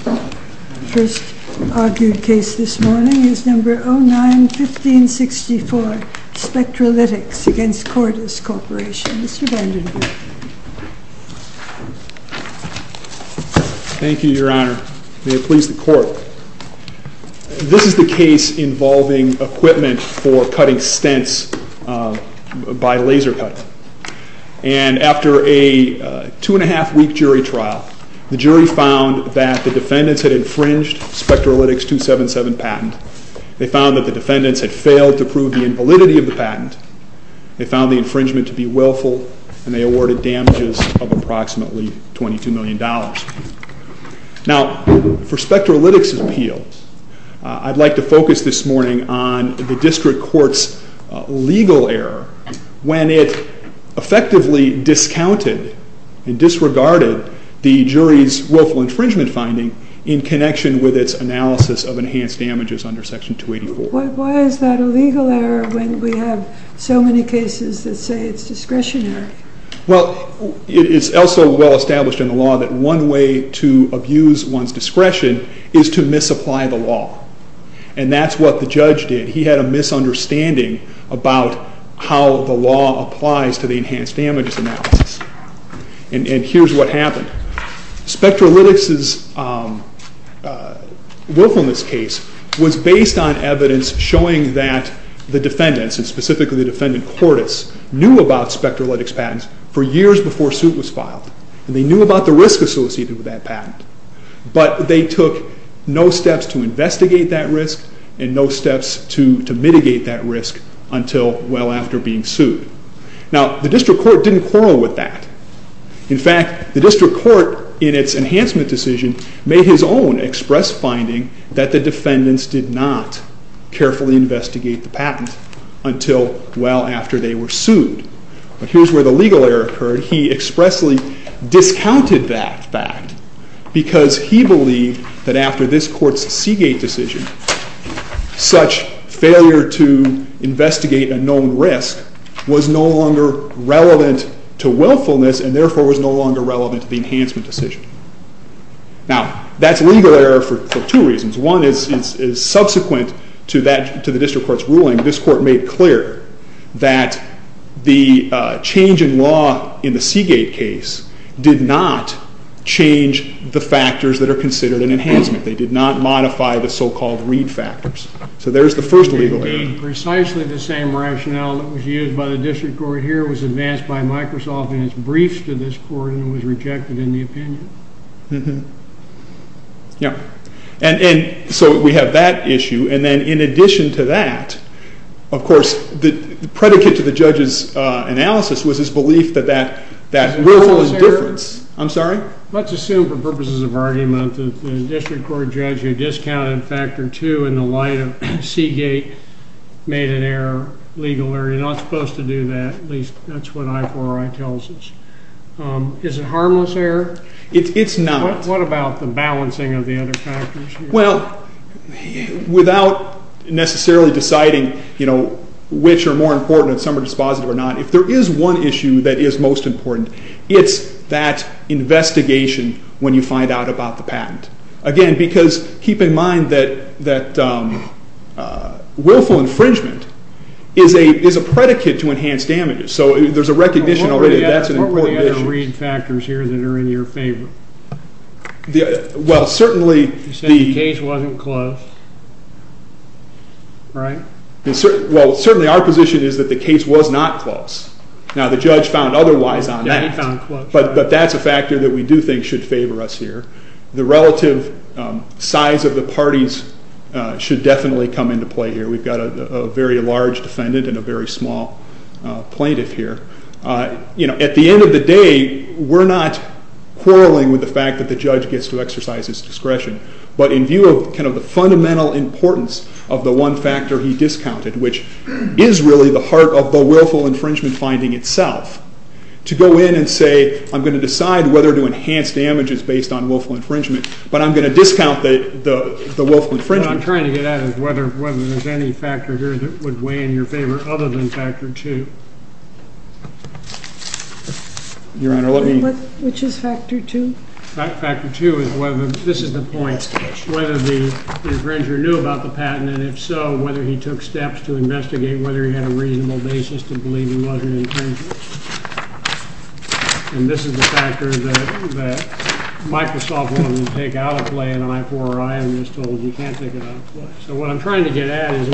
The first argued case this morning is number 09-1564, SPECTRALYTICS v. CORDIS CORP. Mr. Vandenberg. Thank you, Your Honor. May it please the Court. This is the case involving equipment for cutting stents by laser cutting. And after a two and a half week jury trial, the jury found that the defendants had infringed SPECTRALYTICS v. 277 patent. They found that the defendants had failed to prove the invalidity of the patent. They found the infringement to be willful, and they awarded damages of approximately $22 million. Now, for SPECTRALYTICS' appeal, I'd like to focus this morning on the district court's legal error when it effectively discounted and disregarded the jury's willful infringement finding in connection with its analysis of enhanced damages under Section 284. Why is that a legal error when we have so many cases that say it's discretionary? Well, it is also well established in the law that one way to abuse one's discretion is to misapply the law. And that's what the judge did. He had a misunderstanding about how the law applies to the enhanced damages analysis. And here's what happened. SPECTRALYTICS' willfulness case was based on evidence showing that the defendants, and specifically the defendant Cordes, knew about SPECTRALYTICS patents for years before suit was filed. And they knew about the risk associated with that patent. But they took no steps to investigate that risk and no steps to mitigate that risk until well after being sued. Now, the district court didn't quarrel with that. In fact, the district court, in its enhancement decision, made his own express finding that the defendants did not carefully investigate the patent until well after they were sued. But here's where the legal error occurred. He expressly discounted that fact because he believed that after this court's Seagate decision, such failure to investigate a known risk was no longer relevant to willfulness and therefore was no longer relevant to the enhancement decision. Now, that's legal error for two reasons. One is subsequent to the district court's ruling, this court made clear that the change in law in the Seagate case did not change the factors that are considered an enhancement. They did not modify the so-called read factors. So there's the first legal error. Precisely the same rationale that was used by the district court here was advanced by Microsoft in its briefs to this court and was rejected in the opinion. And so we have that issue. And then in addition to that, of course, the predicate to the judge's analysis was his belief that that willfulness difference. I'm sorry? Let's assume for purposes of argument that the district court judge had discounted factor two in the light of Seagate made an error, legal error. You're not supposed to do that, at least that's what I4RI tells us. Is it harmless error? It's not. What about the balancing of the other factors? Well, without necessarily deciding which are more important and some are just positive or not, if there is one issue that is most important, it's that investigation when you find out about the patent. Again, because keep in mind that willful infringement is a predicate to enhanced damages. So there's a recognition already that that's an important issue. What were the other read factors here that are in your favor? Well, certainly the case wasn't close, right? Well, certainly our position is that the case was not close. Now, the judge found otherwise on that. But that's a factor that we do think should favor us here. The relative size of the parties should definitely come into play here. We've got a very large defendant and a very small plaintiff here. At the end of the day, we're not quarreling with the fact that the judge gets to exercise his discretion. But in view of the fundamental importance of the one factor he discounted, which is really the heart of the willful infringement finding itself, to go in and say, I'm going to decide whether to enhance damages based on willful infringement. But I'm going to discount the willful infringement. What I'm trying to get at is whether there's any factor here that would weigh in your favor other than factor two. Your Honor, let me. Which is factor two? Factor two is whether, this is the point, whether the infringer knew about the patent. And if so, whether he took steps to investigate whether he had a reasonable basis to believe he was an infringer. And this is the factor that Microsoft wanted to take out of play in an I-4-R. I am just told you can't take it out of play. So what I'm trying to get at is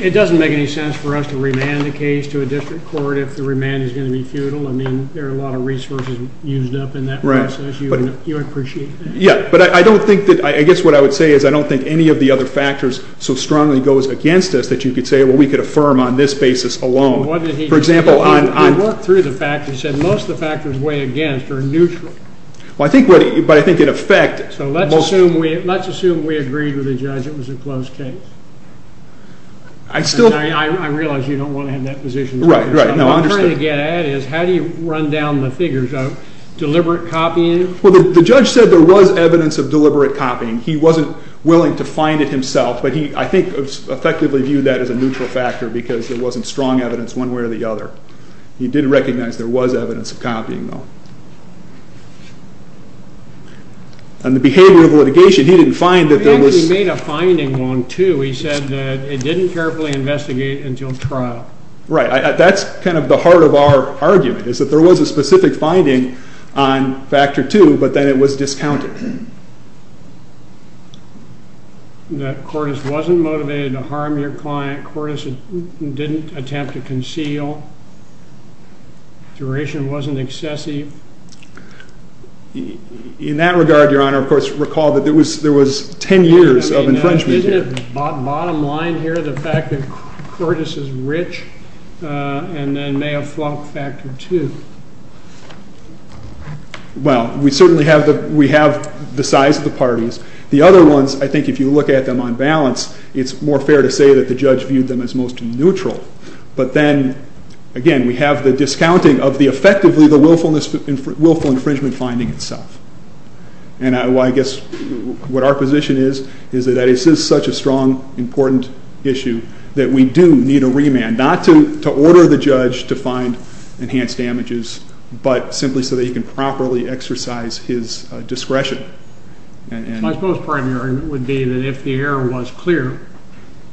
it doesn't make any sense for us to remand the case to a district court if the remand is going to be futile. I mean, there are a lot of resources used up in that process. You would appreciate that. Yeah, but I guess what I would say is I don't think any of the other factors so strongly goes against us that you could say, well, we could affirm on this basis alone. For example, on- He worked through the fact. He said most of the factors way against are neutral. Well, I think what he, but I think in effect- So let's assume we agreed with the judge it was a closed case. I still- I realize you don't want to have that position. Right, right. No, I understand. What I'm trying to get at is how do you run down the figures of deliberate copying? Well, the judge said there was evidence of deliberate copying. He wasn't willing to find it himself. But he, I think, effectively viewed that as a neutral factor because there wasn't strong evidence one way or the other. He did recognize there was evidence of copying, though. And the behavior of litigation, he didn't find that there was- He actually made a finding on two. He said that it didn't carefully investigate until trial. Right, that's kind of the heart of our argument is that there was a specific finding on factor two, but then it was discounted. That Cordes wasn't motivated to harm your client. Cordes didn't attempt to conceal. Duration wasn't excessive. In that regard, Your Honor, of course, recall that there was 10 years of infringement. Isn't it bottom line here, the fact that Cordes is rich and then may have flunked factor two? Well, we certainly have the size of the parties. The other ones, I think if you look at them on balance, it's more fair to say that the judge viewed them as most neutral. But then, again, we have the discounting of effectively the willful infringement finding itself. And I guess what our position is, is that this is such a strong, important issue that we do need a remand, not to order the judge to find enhanced damages, but simply so that he can properly exercise his discretion. My supposed argument would be that if the error was clear,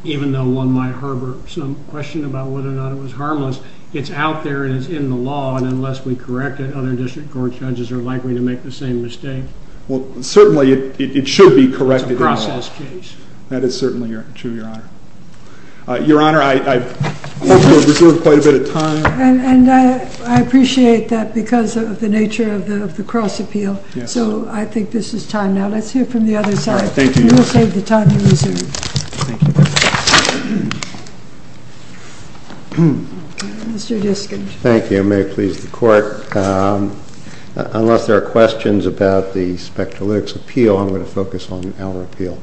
even though one might harbor some question about whether or not it was harmless, it's out there and it's in the law. And unless we correct it, other district court judges are likely to make the same mistake. Well, certainly it should be corrected in law. It's a process case. That is certainly true, Your Honor. Your Honor, I hope you'll reserve quite a bit of time. And I appreciate that because of the nature of the cross appeal. So I think this is time now. Let's hear from the other side. Thank you, Your Honor. We'll save the time you reserve. Thank you. Mr. Diskind. Thank you. May it please the court. Unless there are questions about the Spectralytics Appeal, I'm gonna focus on our appeal.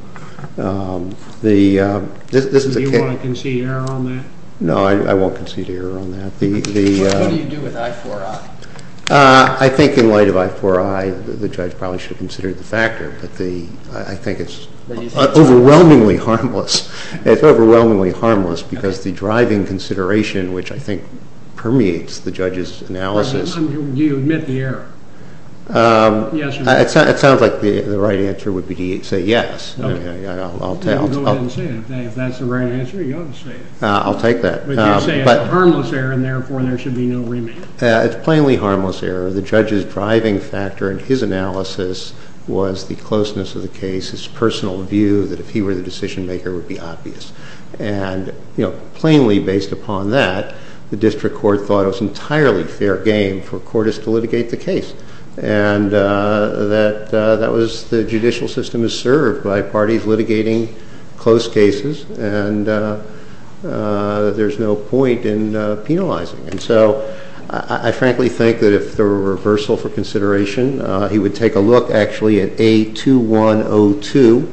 Do you wanna concede error on that? No, I won't concede error on that. What do you do with I-4-I? I think in light of I-4-I, the judge probably should consider the factor, but I think it's overwhelmingly harmless. It's overwhelmingly harmless because the driving consideration, which I think permeates the judge's analysis. Do you admit the error? Yes or no? It sounds like the right answer would be to say yes. Okay. I'll tell. Go ahead and say it. If that's the right answer, you ought to say it. I'll take that. But you're saying it's a harmless error and therefore there should be no remand. It's plainly harmless error. The judge's driving factor in his analysis was the closeness of the case, his personal view that if he were the decision maker, it would be obvious. And plainly based upon that, the district court thought it was entirely fair game for a courtist to litigate the case. And that was the judicial system is served by parties litigating close cases and there's no point in penalizing. And so I frankly think that if there were a reversal for consideration, he would take a look actually at A2102,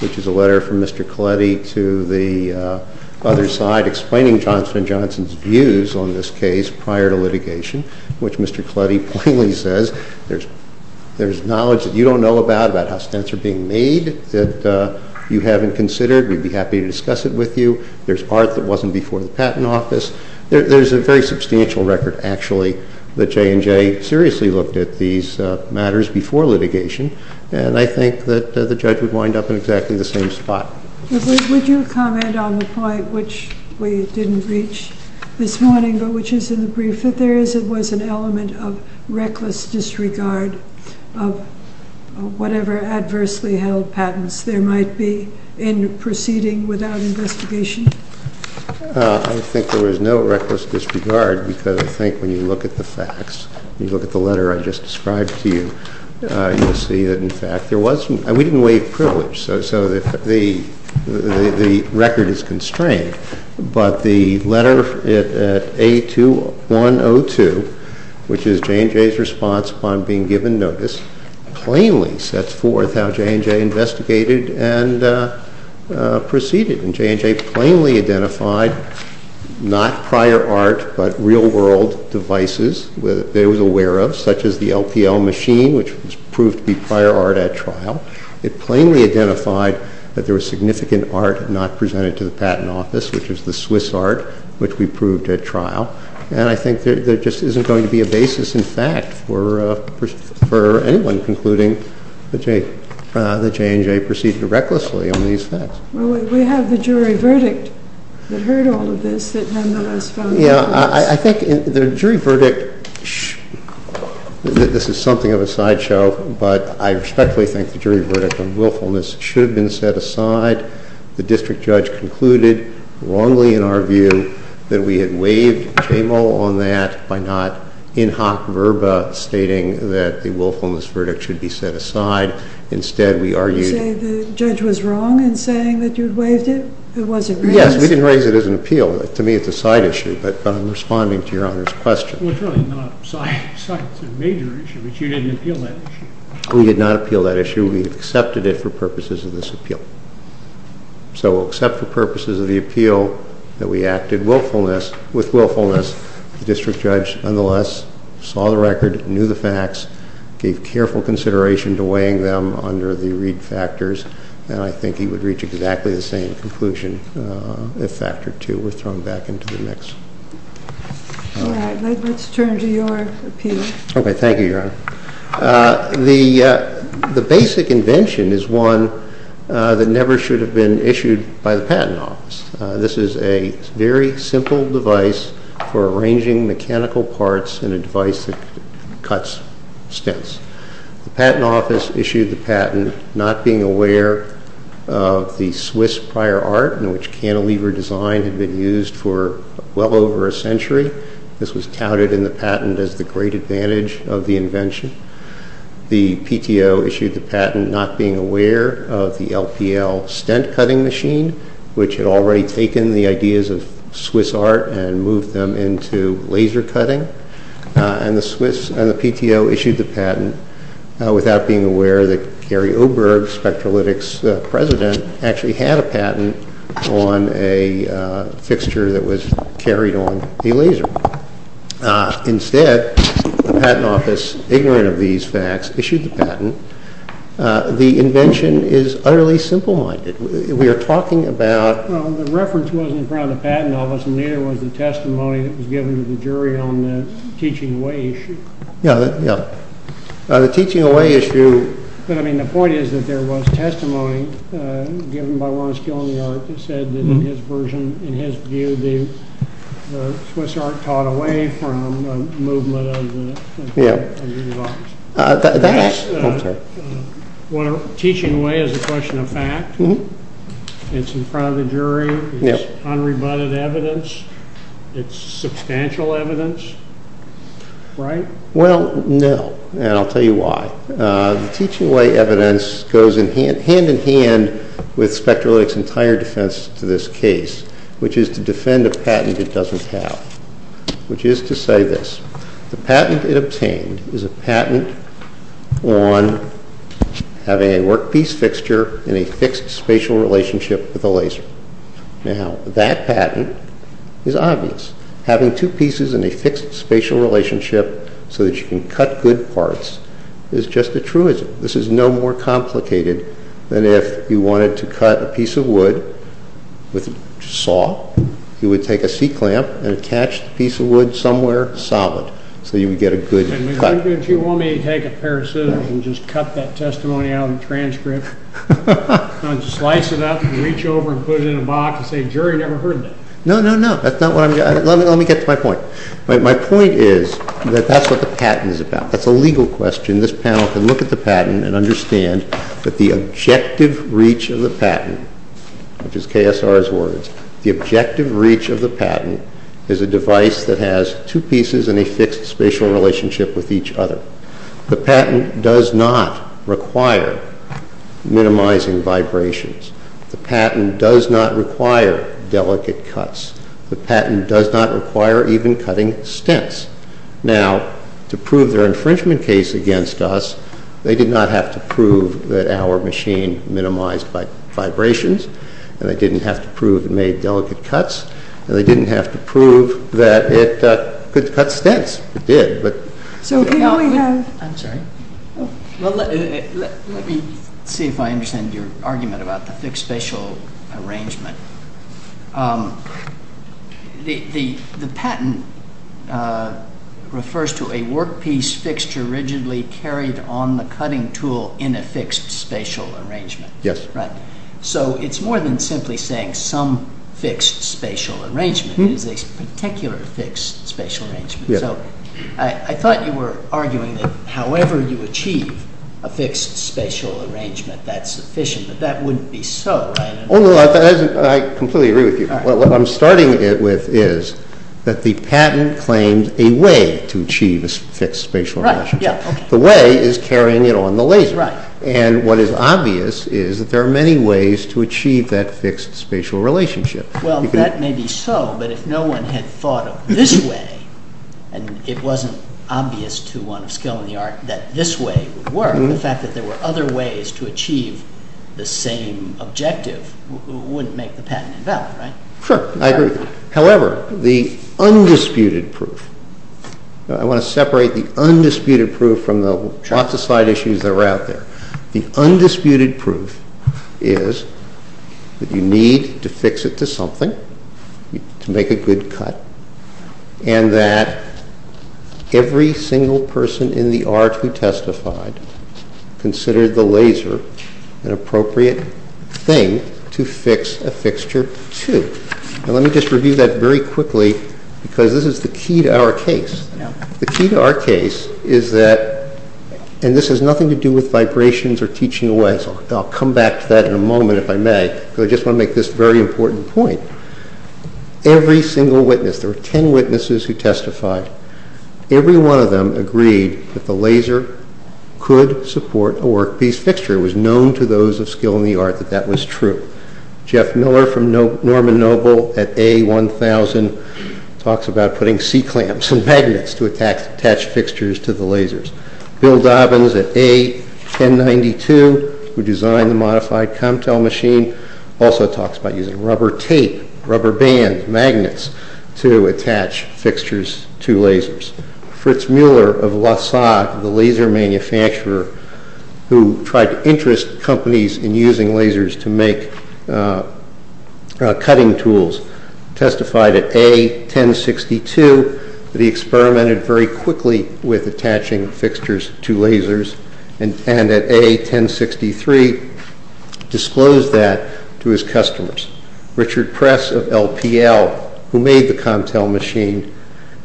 which is a letter from Mr. Coletti to the other side explaining Johnson & Johnson's views on this case prior to litigation, which Mr. Coletti plainly says, there's knowledge that you don't know about about how stints are being made that you haven't considered. We'd be happy to discuss it with you. There's part that wasn't before the patent office. There's a very substantial record actually that J&J seriously looked at these matters before litigation. And I think that the judge would wind up in exactly the same spot. Would you comment on the point which we didn't reach this morning, but which is in the brief that there is, it was an element of reckless disregard of whatever adversely held patents there might be in proceeding without investigation. I think there was no reckless disregard because I think when you look at the facts, you look at the letter I just described to you, you'll see that in fact there was, and we didn't waive privilege. So the record is constrained, but the letter at A2102, which is J&J's response upon being given notice, plainly sets forth how J&J investigated and proceeded. And J&J plainly identified not prior art, but real world devices they was aware of, such as the LPL machine, which was proved to be prior art at trial. It plainly identified that there was significant art not presented to the patent office, which was the Swiss art, which we proved at trial. And I think there just isn't going to be a basis in fact for anyone concluding that J&J proceeded to recklessly on these facts. Well, we have the jury verdict that heard all of this, that nonetheless found no place. Yeah, I think the jury verdict, this is something of a sideshow, but I respectfully think the jury verdict on willfulness should have been set aside. The district judge concluded wrongly in our view that we had waived JMO on that by not in hoc verba stating that the willfulness verdict should be set aside. Instead, we argued- You say the judge was wrong in saying that you'd waived it? It wasn't raised? Yes, we didn't raise it as an appeal. To me, it's a side issue, but I'm responding to your honor's question. Well, it's really not a side issue. It's a major issue, but you didn't appeal that issue. We did not appeal that issue. We accepted it for purposes of this appeal. So we'll accept for purposes of the appeal that we acted with willfulness. The district judge, nonetheless, saw the record, knew the facts, gave careful consideration to weighing them under the Reed factors, and I think he would reach exactly the same conclusion if factor two were thrown back into the mix. All right, let's turn to your appeal. Okay, thank you, Your Honor. The basic invention is one that never should have been issued by the Patent Office. This is a very simple device for arranging mechanical parts in a device that cuts stents. The Patent Office issued the patent not being aware of the Swiss prior art in which cantilever design had been used for well over a century. This was touted in the patent as the great advantage of the invention. The PTO issued the patent not being aware of the LPL stent cutting machine, which had already taken the ideas of Swiss art and moved them into laser cutting, and the PTO issued the patent without being aware that Gary Oberg, Spectralytics president, actually had a patent on a fixture that was carried on a laser. Instead, the Patent Office, ignorant of these facts, issued the patent. The invention is utterly simple-minded. We are talking about... Well, the reference wasn't from the Patent Office, and neither was the testimony that was given to the jury on the teaching away issue. Yeah, yeah. The teaching away issue... But, I mean, the point is that there was testimony given by Lawrence Gill on the art that said that in his version, in his view, the Swiss art taught away from a movement of the... Yeah. Of the Patent Office. That's... Oh, sorry. Well, teaching away is a question of fact. It's in front of the jury. It's unrebutted evidence. It's substantial evidence, right? Well, no, and I'll tell you why. The teaching away evidence goes hand-in-hand with Spectralytics' entire defense to this case, which is to defend a patent it doesn't have, which is to say this. The patent it obtained is a patent on having a workpiece fixture in a fixed spatial relationship with a laser. Now, that patent is obvious. Having two pieces in a fixed spatial relationship so that you can cut good parts is just a truism. This is no more complicated than if you wanted to cut a piece of wood with a saw, you would take a C-clamp and attach the piece of wood somewhere solid so you would get a good cut. If you want me to take a pair of scissors and just cut that testimony out of the transcript, and just slice it up and reach over and put it in a box and say, jury never heard of that. No, no, no, that's not what I'm, let me get to my point. My point is that that's what the patent is about. That's a legal question. This panel can look at the patent and understand that the objective reach of the patent, which is KSR's words, the objective reach of the patent is a device that has two pieces in a fixed spatial relationship with each other. The patent does not require minimizing vibrations. The patent does not require delicate cuts. The patent does not require even cutting stents. Now, to prove their infringement case against us, they did not have to prove that our machine minimized vibrations, and they didn't have to prove it made delicate cuts, and they didn't have to prove that it could cut stents. It did, but. So here we have. I'm sorry. Well, let me see if I understand your argument about the fixed spatial arrangement. The patent refers to a workpiece fixture rigidly carried on the cutting tool in a fixed spatial arrangement. Yes. Right. So it's more than simply saying some fixed spatial arrangement. It's a particular fixed spatial arrangement. So I thought you were arguing that however you achieve a fixed spatial arrangement, that's sufficient, but that wouldn't be so, right? Oh, no, I completely agree with you. What I'm starting with is that the patent claims a way to achieve a fixed spatial relationship. The way is carrying it on the laser, and what is obvious is that there are many ways to achieve that fixed spatial relationship. Well, that may be so, but if no one had thought of this way, and it wasn't obvious to one of skill in the art that this way would work, the fact that there were other ways to achieve the same objective wouldn't make the patent invalid, right? Sure, I agree. However, the undisputed proof, I want to separate the undisputed proof from the lots of side issues that were out there. The undisputed proof is that you need to fix it to something to make a good cut, and that every single person in the art who testified considered the laser an appropriate thing to fix a fixture to. Now, let me just review that very quickly because this is the key to our case. The key to our case is that, and this has nothing to do with vibrations or teaching away, so I'll come back to that in a moment if I may, but I just want to make this very important point. Every single witness, there were 10 witnesses who testified, every one of them agreed that the laser could support a workpiece fixture. It was known to those of skill in the art that that was true. Jeff Miller from Norman Noble at A1000 talks about putting C-clamps and magnets to attach fixtures to the lasers. Bill Dobbins at A1092, who designed the modified Comtel machine, also talks about using rubber tape, rubber bands, magnets, to attach fixtures to lasers. Fritz Muller of Lausade, the laser manufacturer who tried to interest companies in using lasers to make cutting tools, testified at A1062 that he experimented very quickly with attaching fixtures to lasers, and at A1063 disclosed that to his customers. Richard Press of LPL, who made the Comtel machine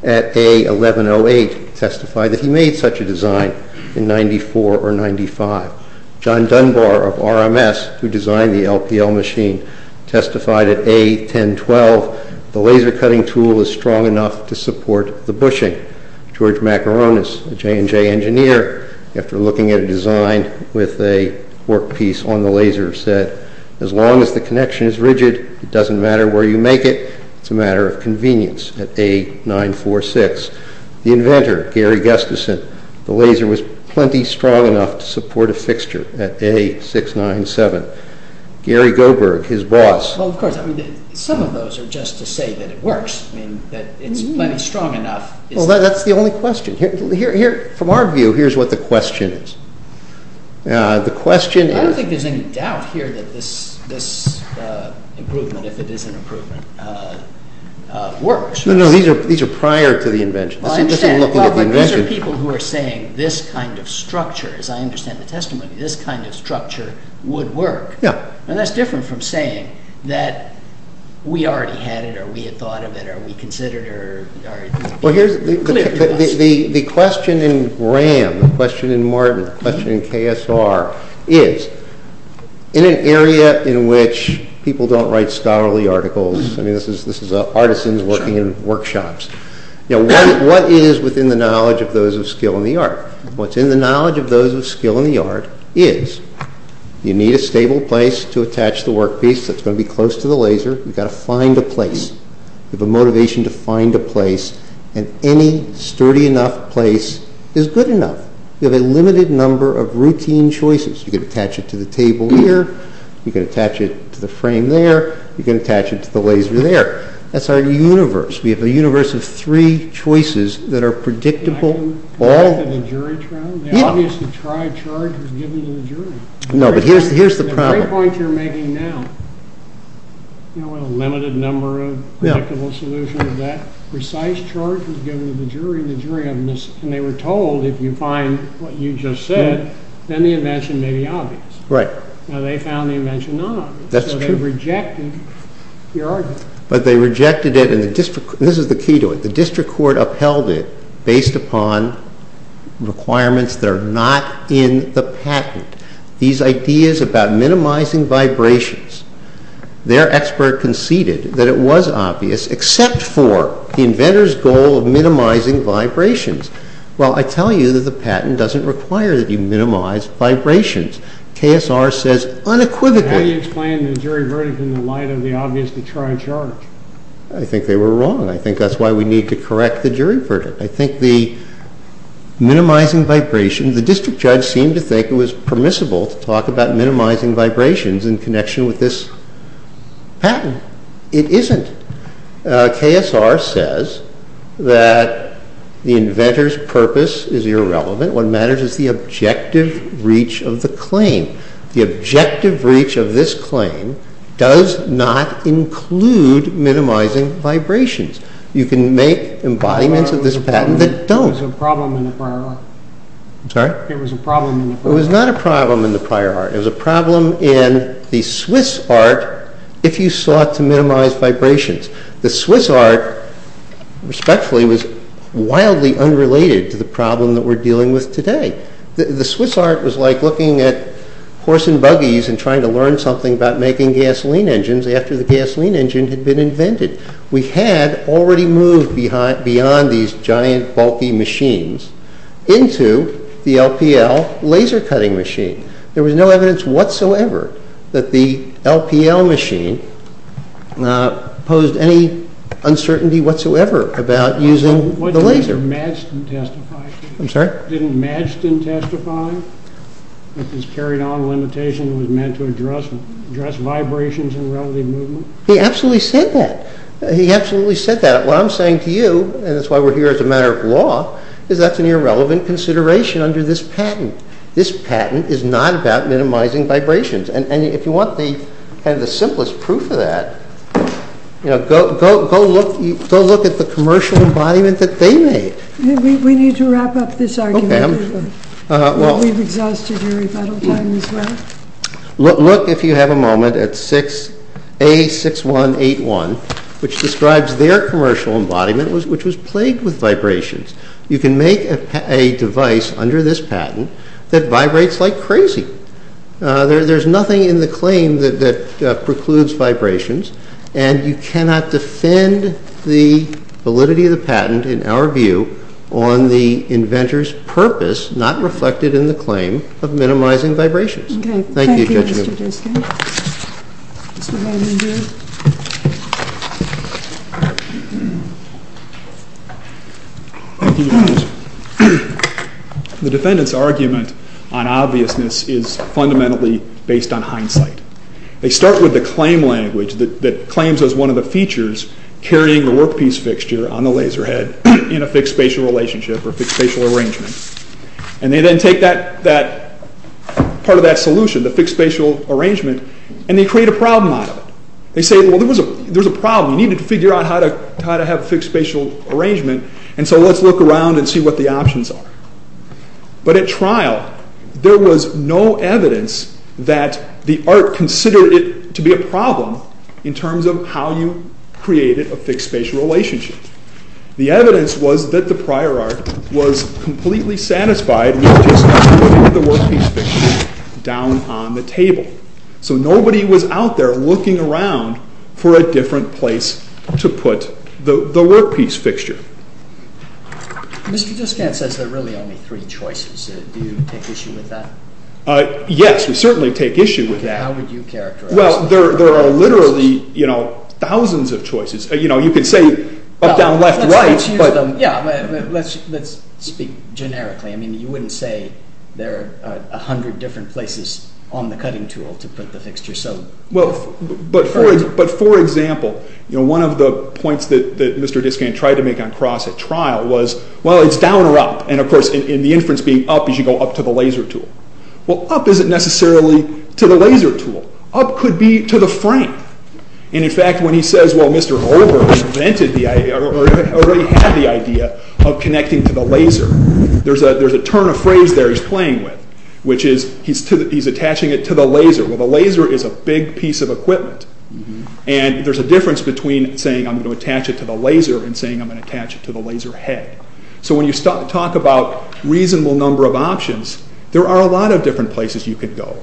at A1108, testified that he made such a design in 94 or 95. John Dunbar of RMS, who designed the LPL machine, testified at A1012, the laser cutting tool was strong enough to support the bushing. George Macaronis, a J&J engineer, after looking at a design with a workpiece on the laser, said, as long as the connection is rigid, it doesn't matter where you make it, it's a matter of convenience at A946. The inventor, Gary Gustafson, the laser was plenty strong enough to support a fixture at A697. Gary Goberg, his boss. Well, of course, some of those are just to say that it works, that it's plenty strong enough. Well, that's the only question. From our view, here's what the question is. The question is... I don't think there's any doubt here that this improvement, if it is an improvement, works. No, no, these are prior to the invention. This is just looking at the invention. Well, I understand, but those are people who are saying this kind of structure, as I understand the testimony, this kind of structure would work. Yeah. And that's different from saying or we considered it, or it's been clear to us. The question in Graham, the question in Martin, the question in KSR is, in an area in which people don't write scholarly articles, I mean, this is artisans working in workshops, what is within the knowledge of those of skill in the art? What's in the knowledge of those of skill in the art is, you need a stable place to attach the workpiece that's gonna be close to the laser. You've gotta find a place. You have a motivation to find a place and any sturdy enough place is good enough. You have a limited number of routine choices. You can attach it to the table here. You can attach it to the frame there. You can attach it to the laser there. That's our universe. We have a universe of three choices that are predictable all. I can go back to the jury trial. Yeah. They obviously tried charges given to the jury. No, but here's the problem. The three points you're making now, you know, a limited number of predictable solutions under that precise charge was given to the jury and the jury, and they were told, if you find what you just said, then the invention may be obvious. Right. Now they found the invention not obvious. That's true. So they rejected your argument. But they rejected it, and this is the key to it. The district court upheld it based upon requirements that are not in the patent. These ideas about minimizing vibrations, their expert conceded that it was obvious, except for the inventor's goal of minimizing vibrations. Well, I tell you that the patent doesn't require that you minimize vibrations. KSR says unequivocally. How do you explain the jury verdict in the light of the obvious to try and charge? I think they were wrong. I think that's why we need to correct the jury verdict. I think the minimizing vibration, the district judge seemed to think it was permissible to talk about minimizing vibrations in connection with this patent. It isn't. KSR says that the inventor's purpose is irrelevant. What matters is the objective reach of the claim. The objective reach of this claim does not include minimizing vibrations. You can make embodiments of this patent that don't. It was a problem in the prior art. I'm sorry? It was a problem in the prior art. It was not a problem in the prior art. It was a problem in the Swiss art if you sought to minimize vibrations. The Swiss art, respectfully, was wildly unrelated to the problem that we're dealing with today. The Swiss art was like looking at horse and buggies and trying to learn something about making gasoline engines after the gasoline engine had been invented. We had already moved beyond these giant bulky machines into the LPL laser cutting machine. There was no evidence whatsoever that the LPL machine posed any uncertainty whatsoever about using the laser. Didn't Madsen testify? I'm sorry? Didn't Madsen testify that this carried on limitation was meant to address vibrations and relative movement? He absolutely said that. He absolutely said that. What I'm saying to you, and that's why we're here as a matter of law, is that's an irrelevant consideration under this patent. This patent is not about minimizing vibrations. If you want the simplest proof of that, go look at the commercial embodiment that they made. We need to wrap up this argument. We've exhausted your rebuttal time as well. Look, if you have a moment, at A6181, which describes their commercial embodiment, which was plagued with vibrations. You can make a device under this patent that vibrates like crazy. There's nothing in the claim that precludes vibrations, and you cannot defend the validity of the patent, in our view, on the inventor's purpose not reflected in the claim of minimizing vibrations. Thank you, Judge Newman. Okay, thank you, Mr. Gerstin. Mr. Waldron-Gerstin. The defendant's argument on obviousness is fundamentally based on hindsight. They start with the claim language that claims as one of the features carrying the workpiece fixture on the laser head in a fixed spatial relationship or fixed spatial arrangement, and they then take part of that solution, the fixed spatial arrangement, and they create a problem out of it. They say, well, there's a problem. You need to figure out how to have a fixed spatial arrangement, and so let's look around and see what the options are. But at trial, there was no evidence that the art considered it to be a problem in terms of how you created a fixed spatial relationship. The evidence was that the prior art was completely satisfied with just putting the workpiece fixture down on the table. So nobody was out there looking around for a different place to put the workpiece fixture. Mr. Diskant says there are really only three choices. Do you take issue with that? Yes, we certainly take issue with that. How would you characterize those three choices? Well, there are literally thousands of choices. You can say up, down, left, right. Let's use them. Yeah, let's speak generically. I mean, you wouldn't say there are 100 different places on the cutting tool to put the fixture. Well, but for example, one of the points that Mr. Diskant tried to make on cross at trial was, well, it's down or up. And of course, in the inference being up, you should go up to the laser tool. Well, up isn't necessarily to the laser tool. Up could be to the frame. And in fact, when he says, well, Mr. Holbrook invented the idea or already had the idea of connecting to the laser, there's a turn of phrase there he's playing with, which is he's attaching it to the laser. Well, the laser is a big piece of equipment. And there's a difference between saying I'm going to attach it to the laser and saying I'm going to attach it to the laser head. So when you talk about reasonable number of options, there are a lot of different places you could go.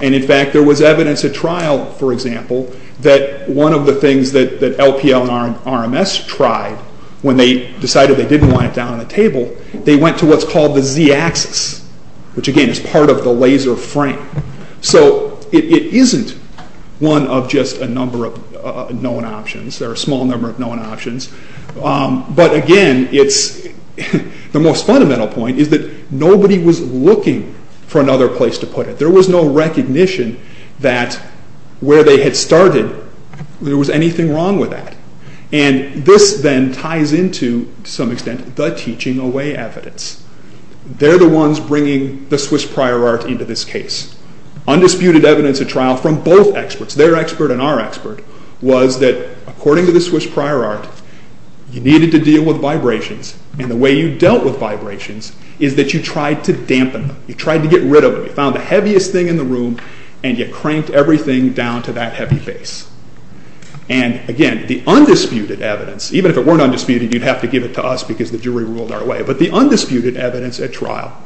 And in fact, there was evidence at trial, for example, that one of the things that LPL and RMS tried when they decided they didn't want it down on the table, they went to what's called the z-axis, which again is part of the laser frame. So it isn't one of just a number of known options. There are a small number of known options. But again, the most fundamental point is that nobody was looking for another place to put it. There was no recognition that where they had started, there was anything wrong with that. And this then ties into, to some extent, the teaching away evidence. They're the ones bringing the Swiss prior art into this case. Undisputed evidence at trial from both experts, their expert and our expert, was that according to the Swiss prior art, you needed to deal with vibrations. And the way you dealt with vibrations is that you tried to dampen them. You tried to get rid of them. You found the heaviest thing in the room and you cranked everything down to that heavy base. And again, the undisputed evidence, even if it weren't undisputed, you'd have to give it to us because the jury ruled our way. But the undisputed evidence at trial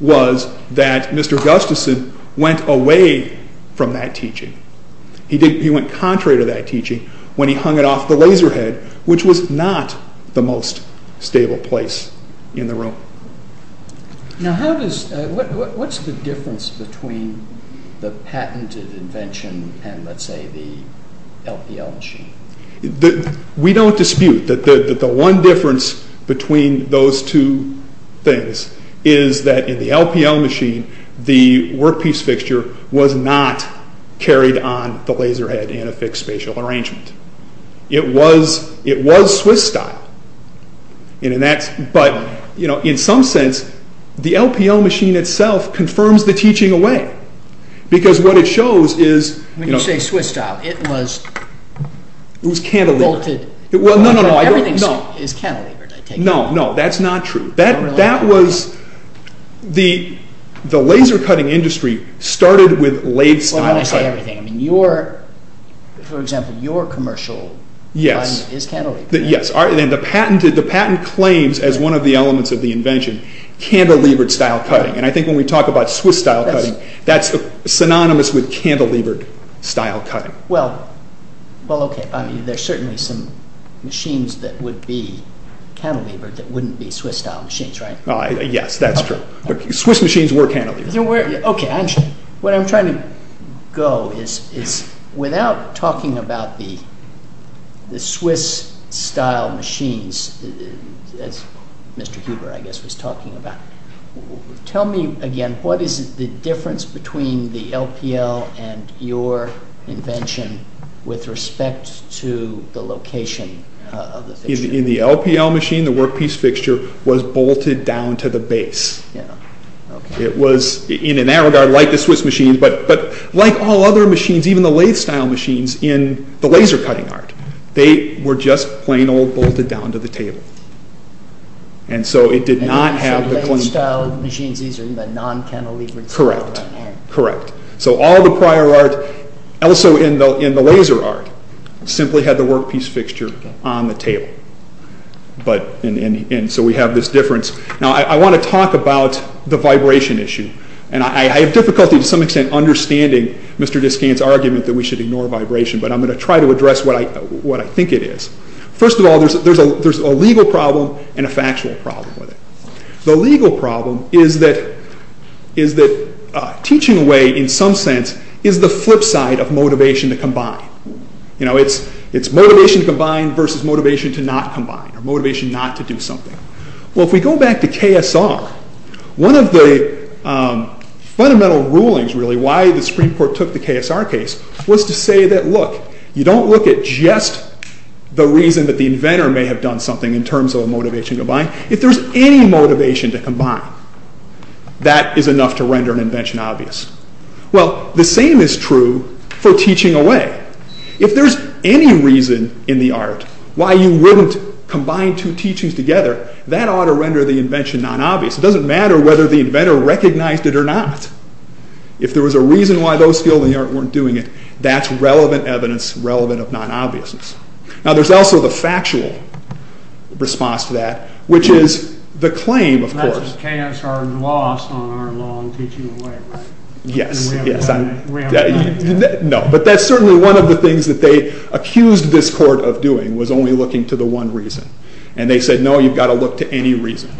was that Mr. Gustafson went away from that teaching. He went contrary to that teaching when he hung it off the laser head, which was not the most stable place in the room. Now, what's the difference between the patented invention and, let's say, the LPL machine? We don't dispute that the one difference between those two things is that in the LPL machine, the workpiece fixture was not carried on the laser head in a fixed spatial arrangement. It was Swiss-style, but in some sense, the LPL machine itself confirms the teaching away because what it shows is... When you say Swiss-style, it was... It was cantilevered. Everything is cantilevered. No, no, that's not true. That was... The laser cutting industry started with lathe-style cutting. Well, I don't say everything. I mean, your... For example, your commercial... Yes. ...is cantilevered. Yes. And the patent claims, as one of the elements of the invention, cantilevered-style cutting. And I think when we talk about Swiss-style cutting, that's synonymous with cantilevered-style cutting. Well, okay. There's certainly some machines that would be cantilevered that wouldn't be Swiss-style machines, right? Yes, that's true. But Swiss machines were cantilevered. Okay. What I'm trying to go is, without talking about the Swiss-style machines, as Mr. Huber, I guess, was talking about, tell me, again, what is the difference between the LPL and your invention with respect to the location of the fixture? In the LPL machine, the workpiece fixture was bolted down to the base. Yes. Okay. It was, in that regard, like the Swiss machines, but like all other machines, even the lathe-style machines in the laser cutting art, they were just plain old bolted down to the table. And so it did not have the... And in the lathe-style machines, these are the non-cantilevered... Correct. Correct. So all the prior art, also in the laser art, simply had the workpiece fixture on the table. And so we have this difference. Now, I want to talk about the vibration issue. And I have difficulty, to some extent, understanding Mr. Descant's argument that we should ignore vibration, but I'm going to try to address what I think it is. First of all, there's a legal problem and a factual problem with it. The legal problem is that teaching away, in some sense, is the flip side of motivation to combine. It's motivation to combine versus motivation to not combine, or motivation not to do something. Well, if we go back to KSR, one of the fundamental rulings, really, why the Supreme Court took the KSR case, was to say that, look, you don't look at just the reason that the inventor may have done something in terms of a motivation to combine. If there's any motivation to combine, that is enough to render an invention obvious. Well, the same is true for teaching away. If there's any reason in the art why you wouldn't combine two teachings together, that ought to render the invention non-obvious. It doesn't matter whether the inventor recognized it or not. If there was a reason why those skilled in the art weren't doing it, that's relevant evidence, relevant of non-obviousness. Now, there's also the factual response to that, which is the claim, of course... That's KSR's loss on our law on teaching away, right? Yes, yes. We have a claim to that. No, but that's certainly one of the things that they accused this court of doing, was only looking to the one reason. And they said, no, you've got to look to any reason.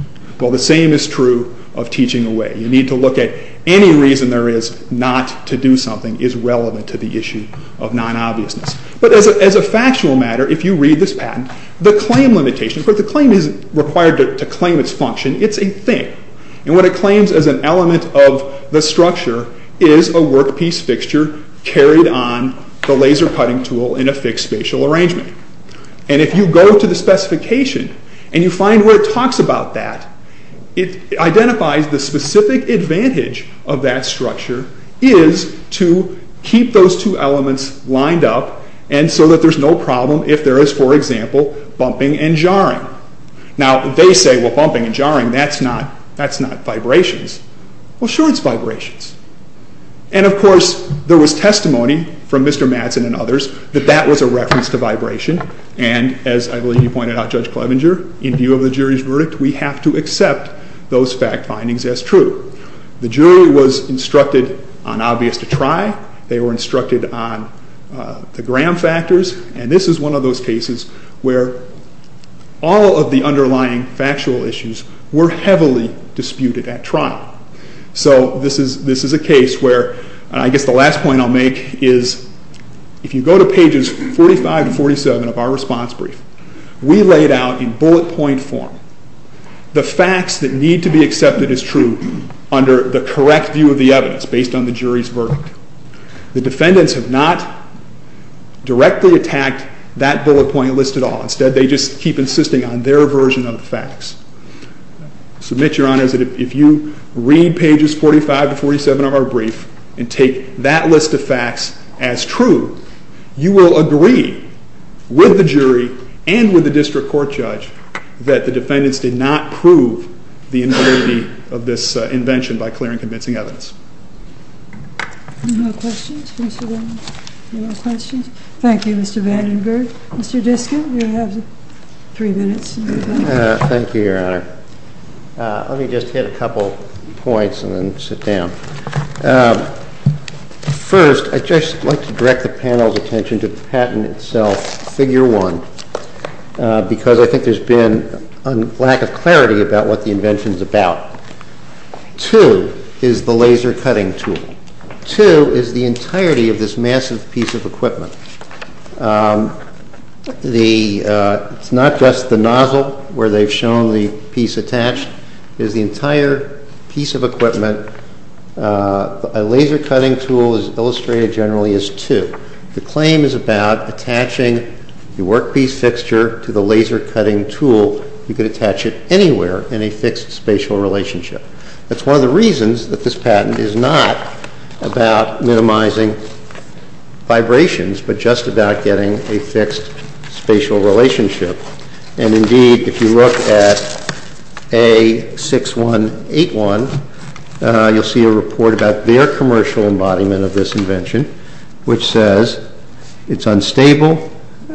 Well, the same is true of teaching away. You need to look at any reason there is not to do something is relevant to the issue of non-obviousness. But as a factual matter, if you read this patent, the claim limitation, but the claim isn't required to claim its function, it's a thing. And what it claims as an element of the structure is a workpiece fixture carried on the laser cutting tool in a fixed spatial arrangement. And if you go to the specification and you find where it talks about that, it identifies the specific advantage of that structure is to keep those two elements lined up and so that there's no problem if there is, for example, bumping and jarring. Now, they say, well, bumping and jarring, that's not vibrations. Well, sure it's vibrations. And, of course, there was testimony from Mr. Madsen and others that that was a reference to vibration. And as I believe you pointed out, Judge Clevenger, in view of the jury's verdict, we have to accept those fact findings as true. The jury was instructed on obvious to try. They were instructed on the Graham factors. And this is one of those cases where all of the underlying factual issues were heavily disputed at trial. So this is a case where, and I guess the last point I'll make is, if you go to pages 45 to 47 of our response brief, we laid out in bullet point form the facts that need to be accepted as true under the correct view of the evidence based on the jury's verdict. The defendants have not directly attacked that bullet point list at all. Instead, they just keep insisting on their version of the facts. I submit, Your Honor, that if you read pages 45 to 47 of our brief and take that list of facts as true, you will agree with the jury and with the district court judge that the defendants did not prove the integrity of this invention by clearing convincing evidence. Any more questions for Mr. Madsen? Any more questions? Thank you, Mr. Vandenberg. Mr. Diskin, you have three minutes. Thank you, Your Honor. Let me just hit a couple points and then sit down. First, I'd just like to direct the panel's attention to the patent itself, figure one, because I think there's been a lack of clarity about what the invention's about. Two is the laser cutting tool. Two is the entirety of this massive piece of equipment. It's not just the nozzle where they've shown the piece attached. It is the entire piece of equipment. A laser cutting tool, as illustrated generally, is two. The claim is about attaching the workpiece fixture to the laser cutting tool. You could attach it anywhere in a fixed spatial relationship. That's one of the reasons that this patent is not about minimizing vibrations, but just about getting a fixed spatial relationship. And indeed, if you look at A6181, you'll see a report about their commercial embodiment of this invention, which says, it's unstable,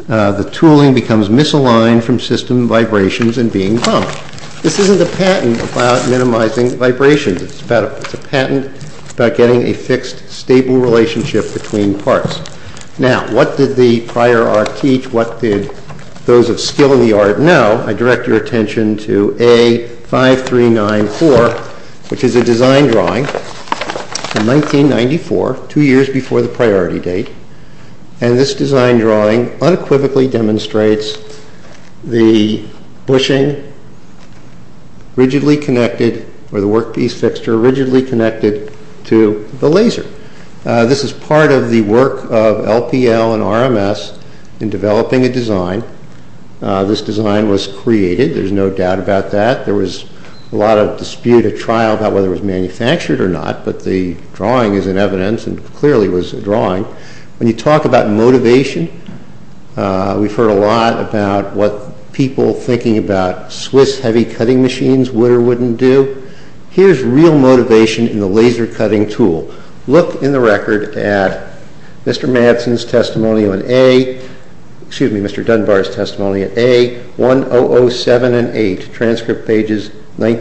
the tooling becomes misaligned from system vibrations and being bumped. This isn't a patent about minimizing vibrations. It's a patent about getting a fixed, stable relationship between parts. Now, what did the prior art teach? What did those of skill in the art know? I direct your attention to A5394, which is a design drawing from 1994, two years before the priority date. And this design drawing unequivocally demonstrates the bushing rigidly connected, or the workpiece fixture rigidly connected to the laser. This is part of the work of LPL and RMS in developing a design. This design was created, there's no doubt about that. There was a lot of dispute at trial about whether it was manufactured or not, but the drawing is in evidence, and clearly was a drawing. When you talk about motivation, we've heard a lot about what people thinking about Swiss heavy cutting machines would or wouldn't do. Here's real motivation in the laser cutting tool. Look in the record at Mr. Dunbar's testimony at A1007 and A1008, transcript pages 19 and 20.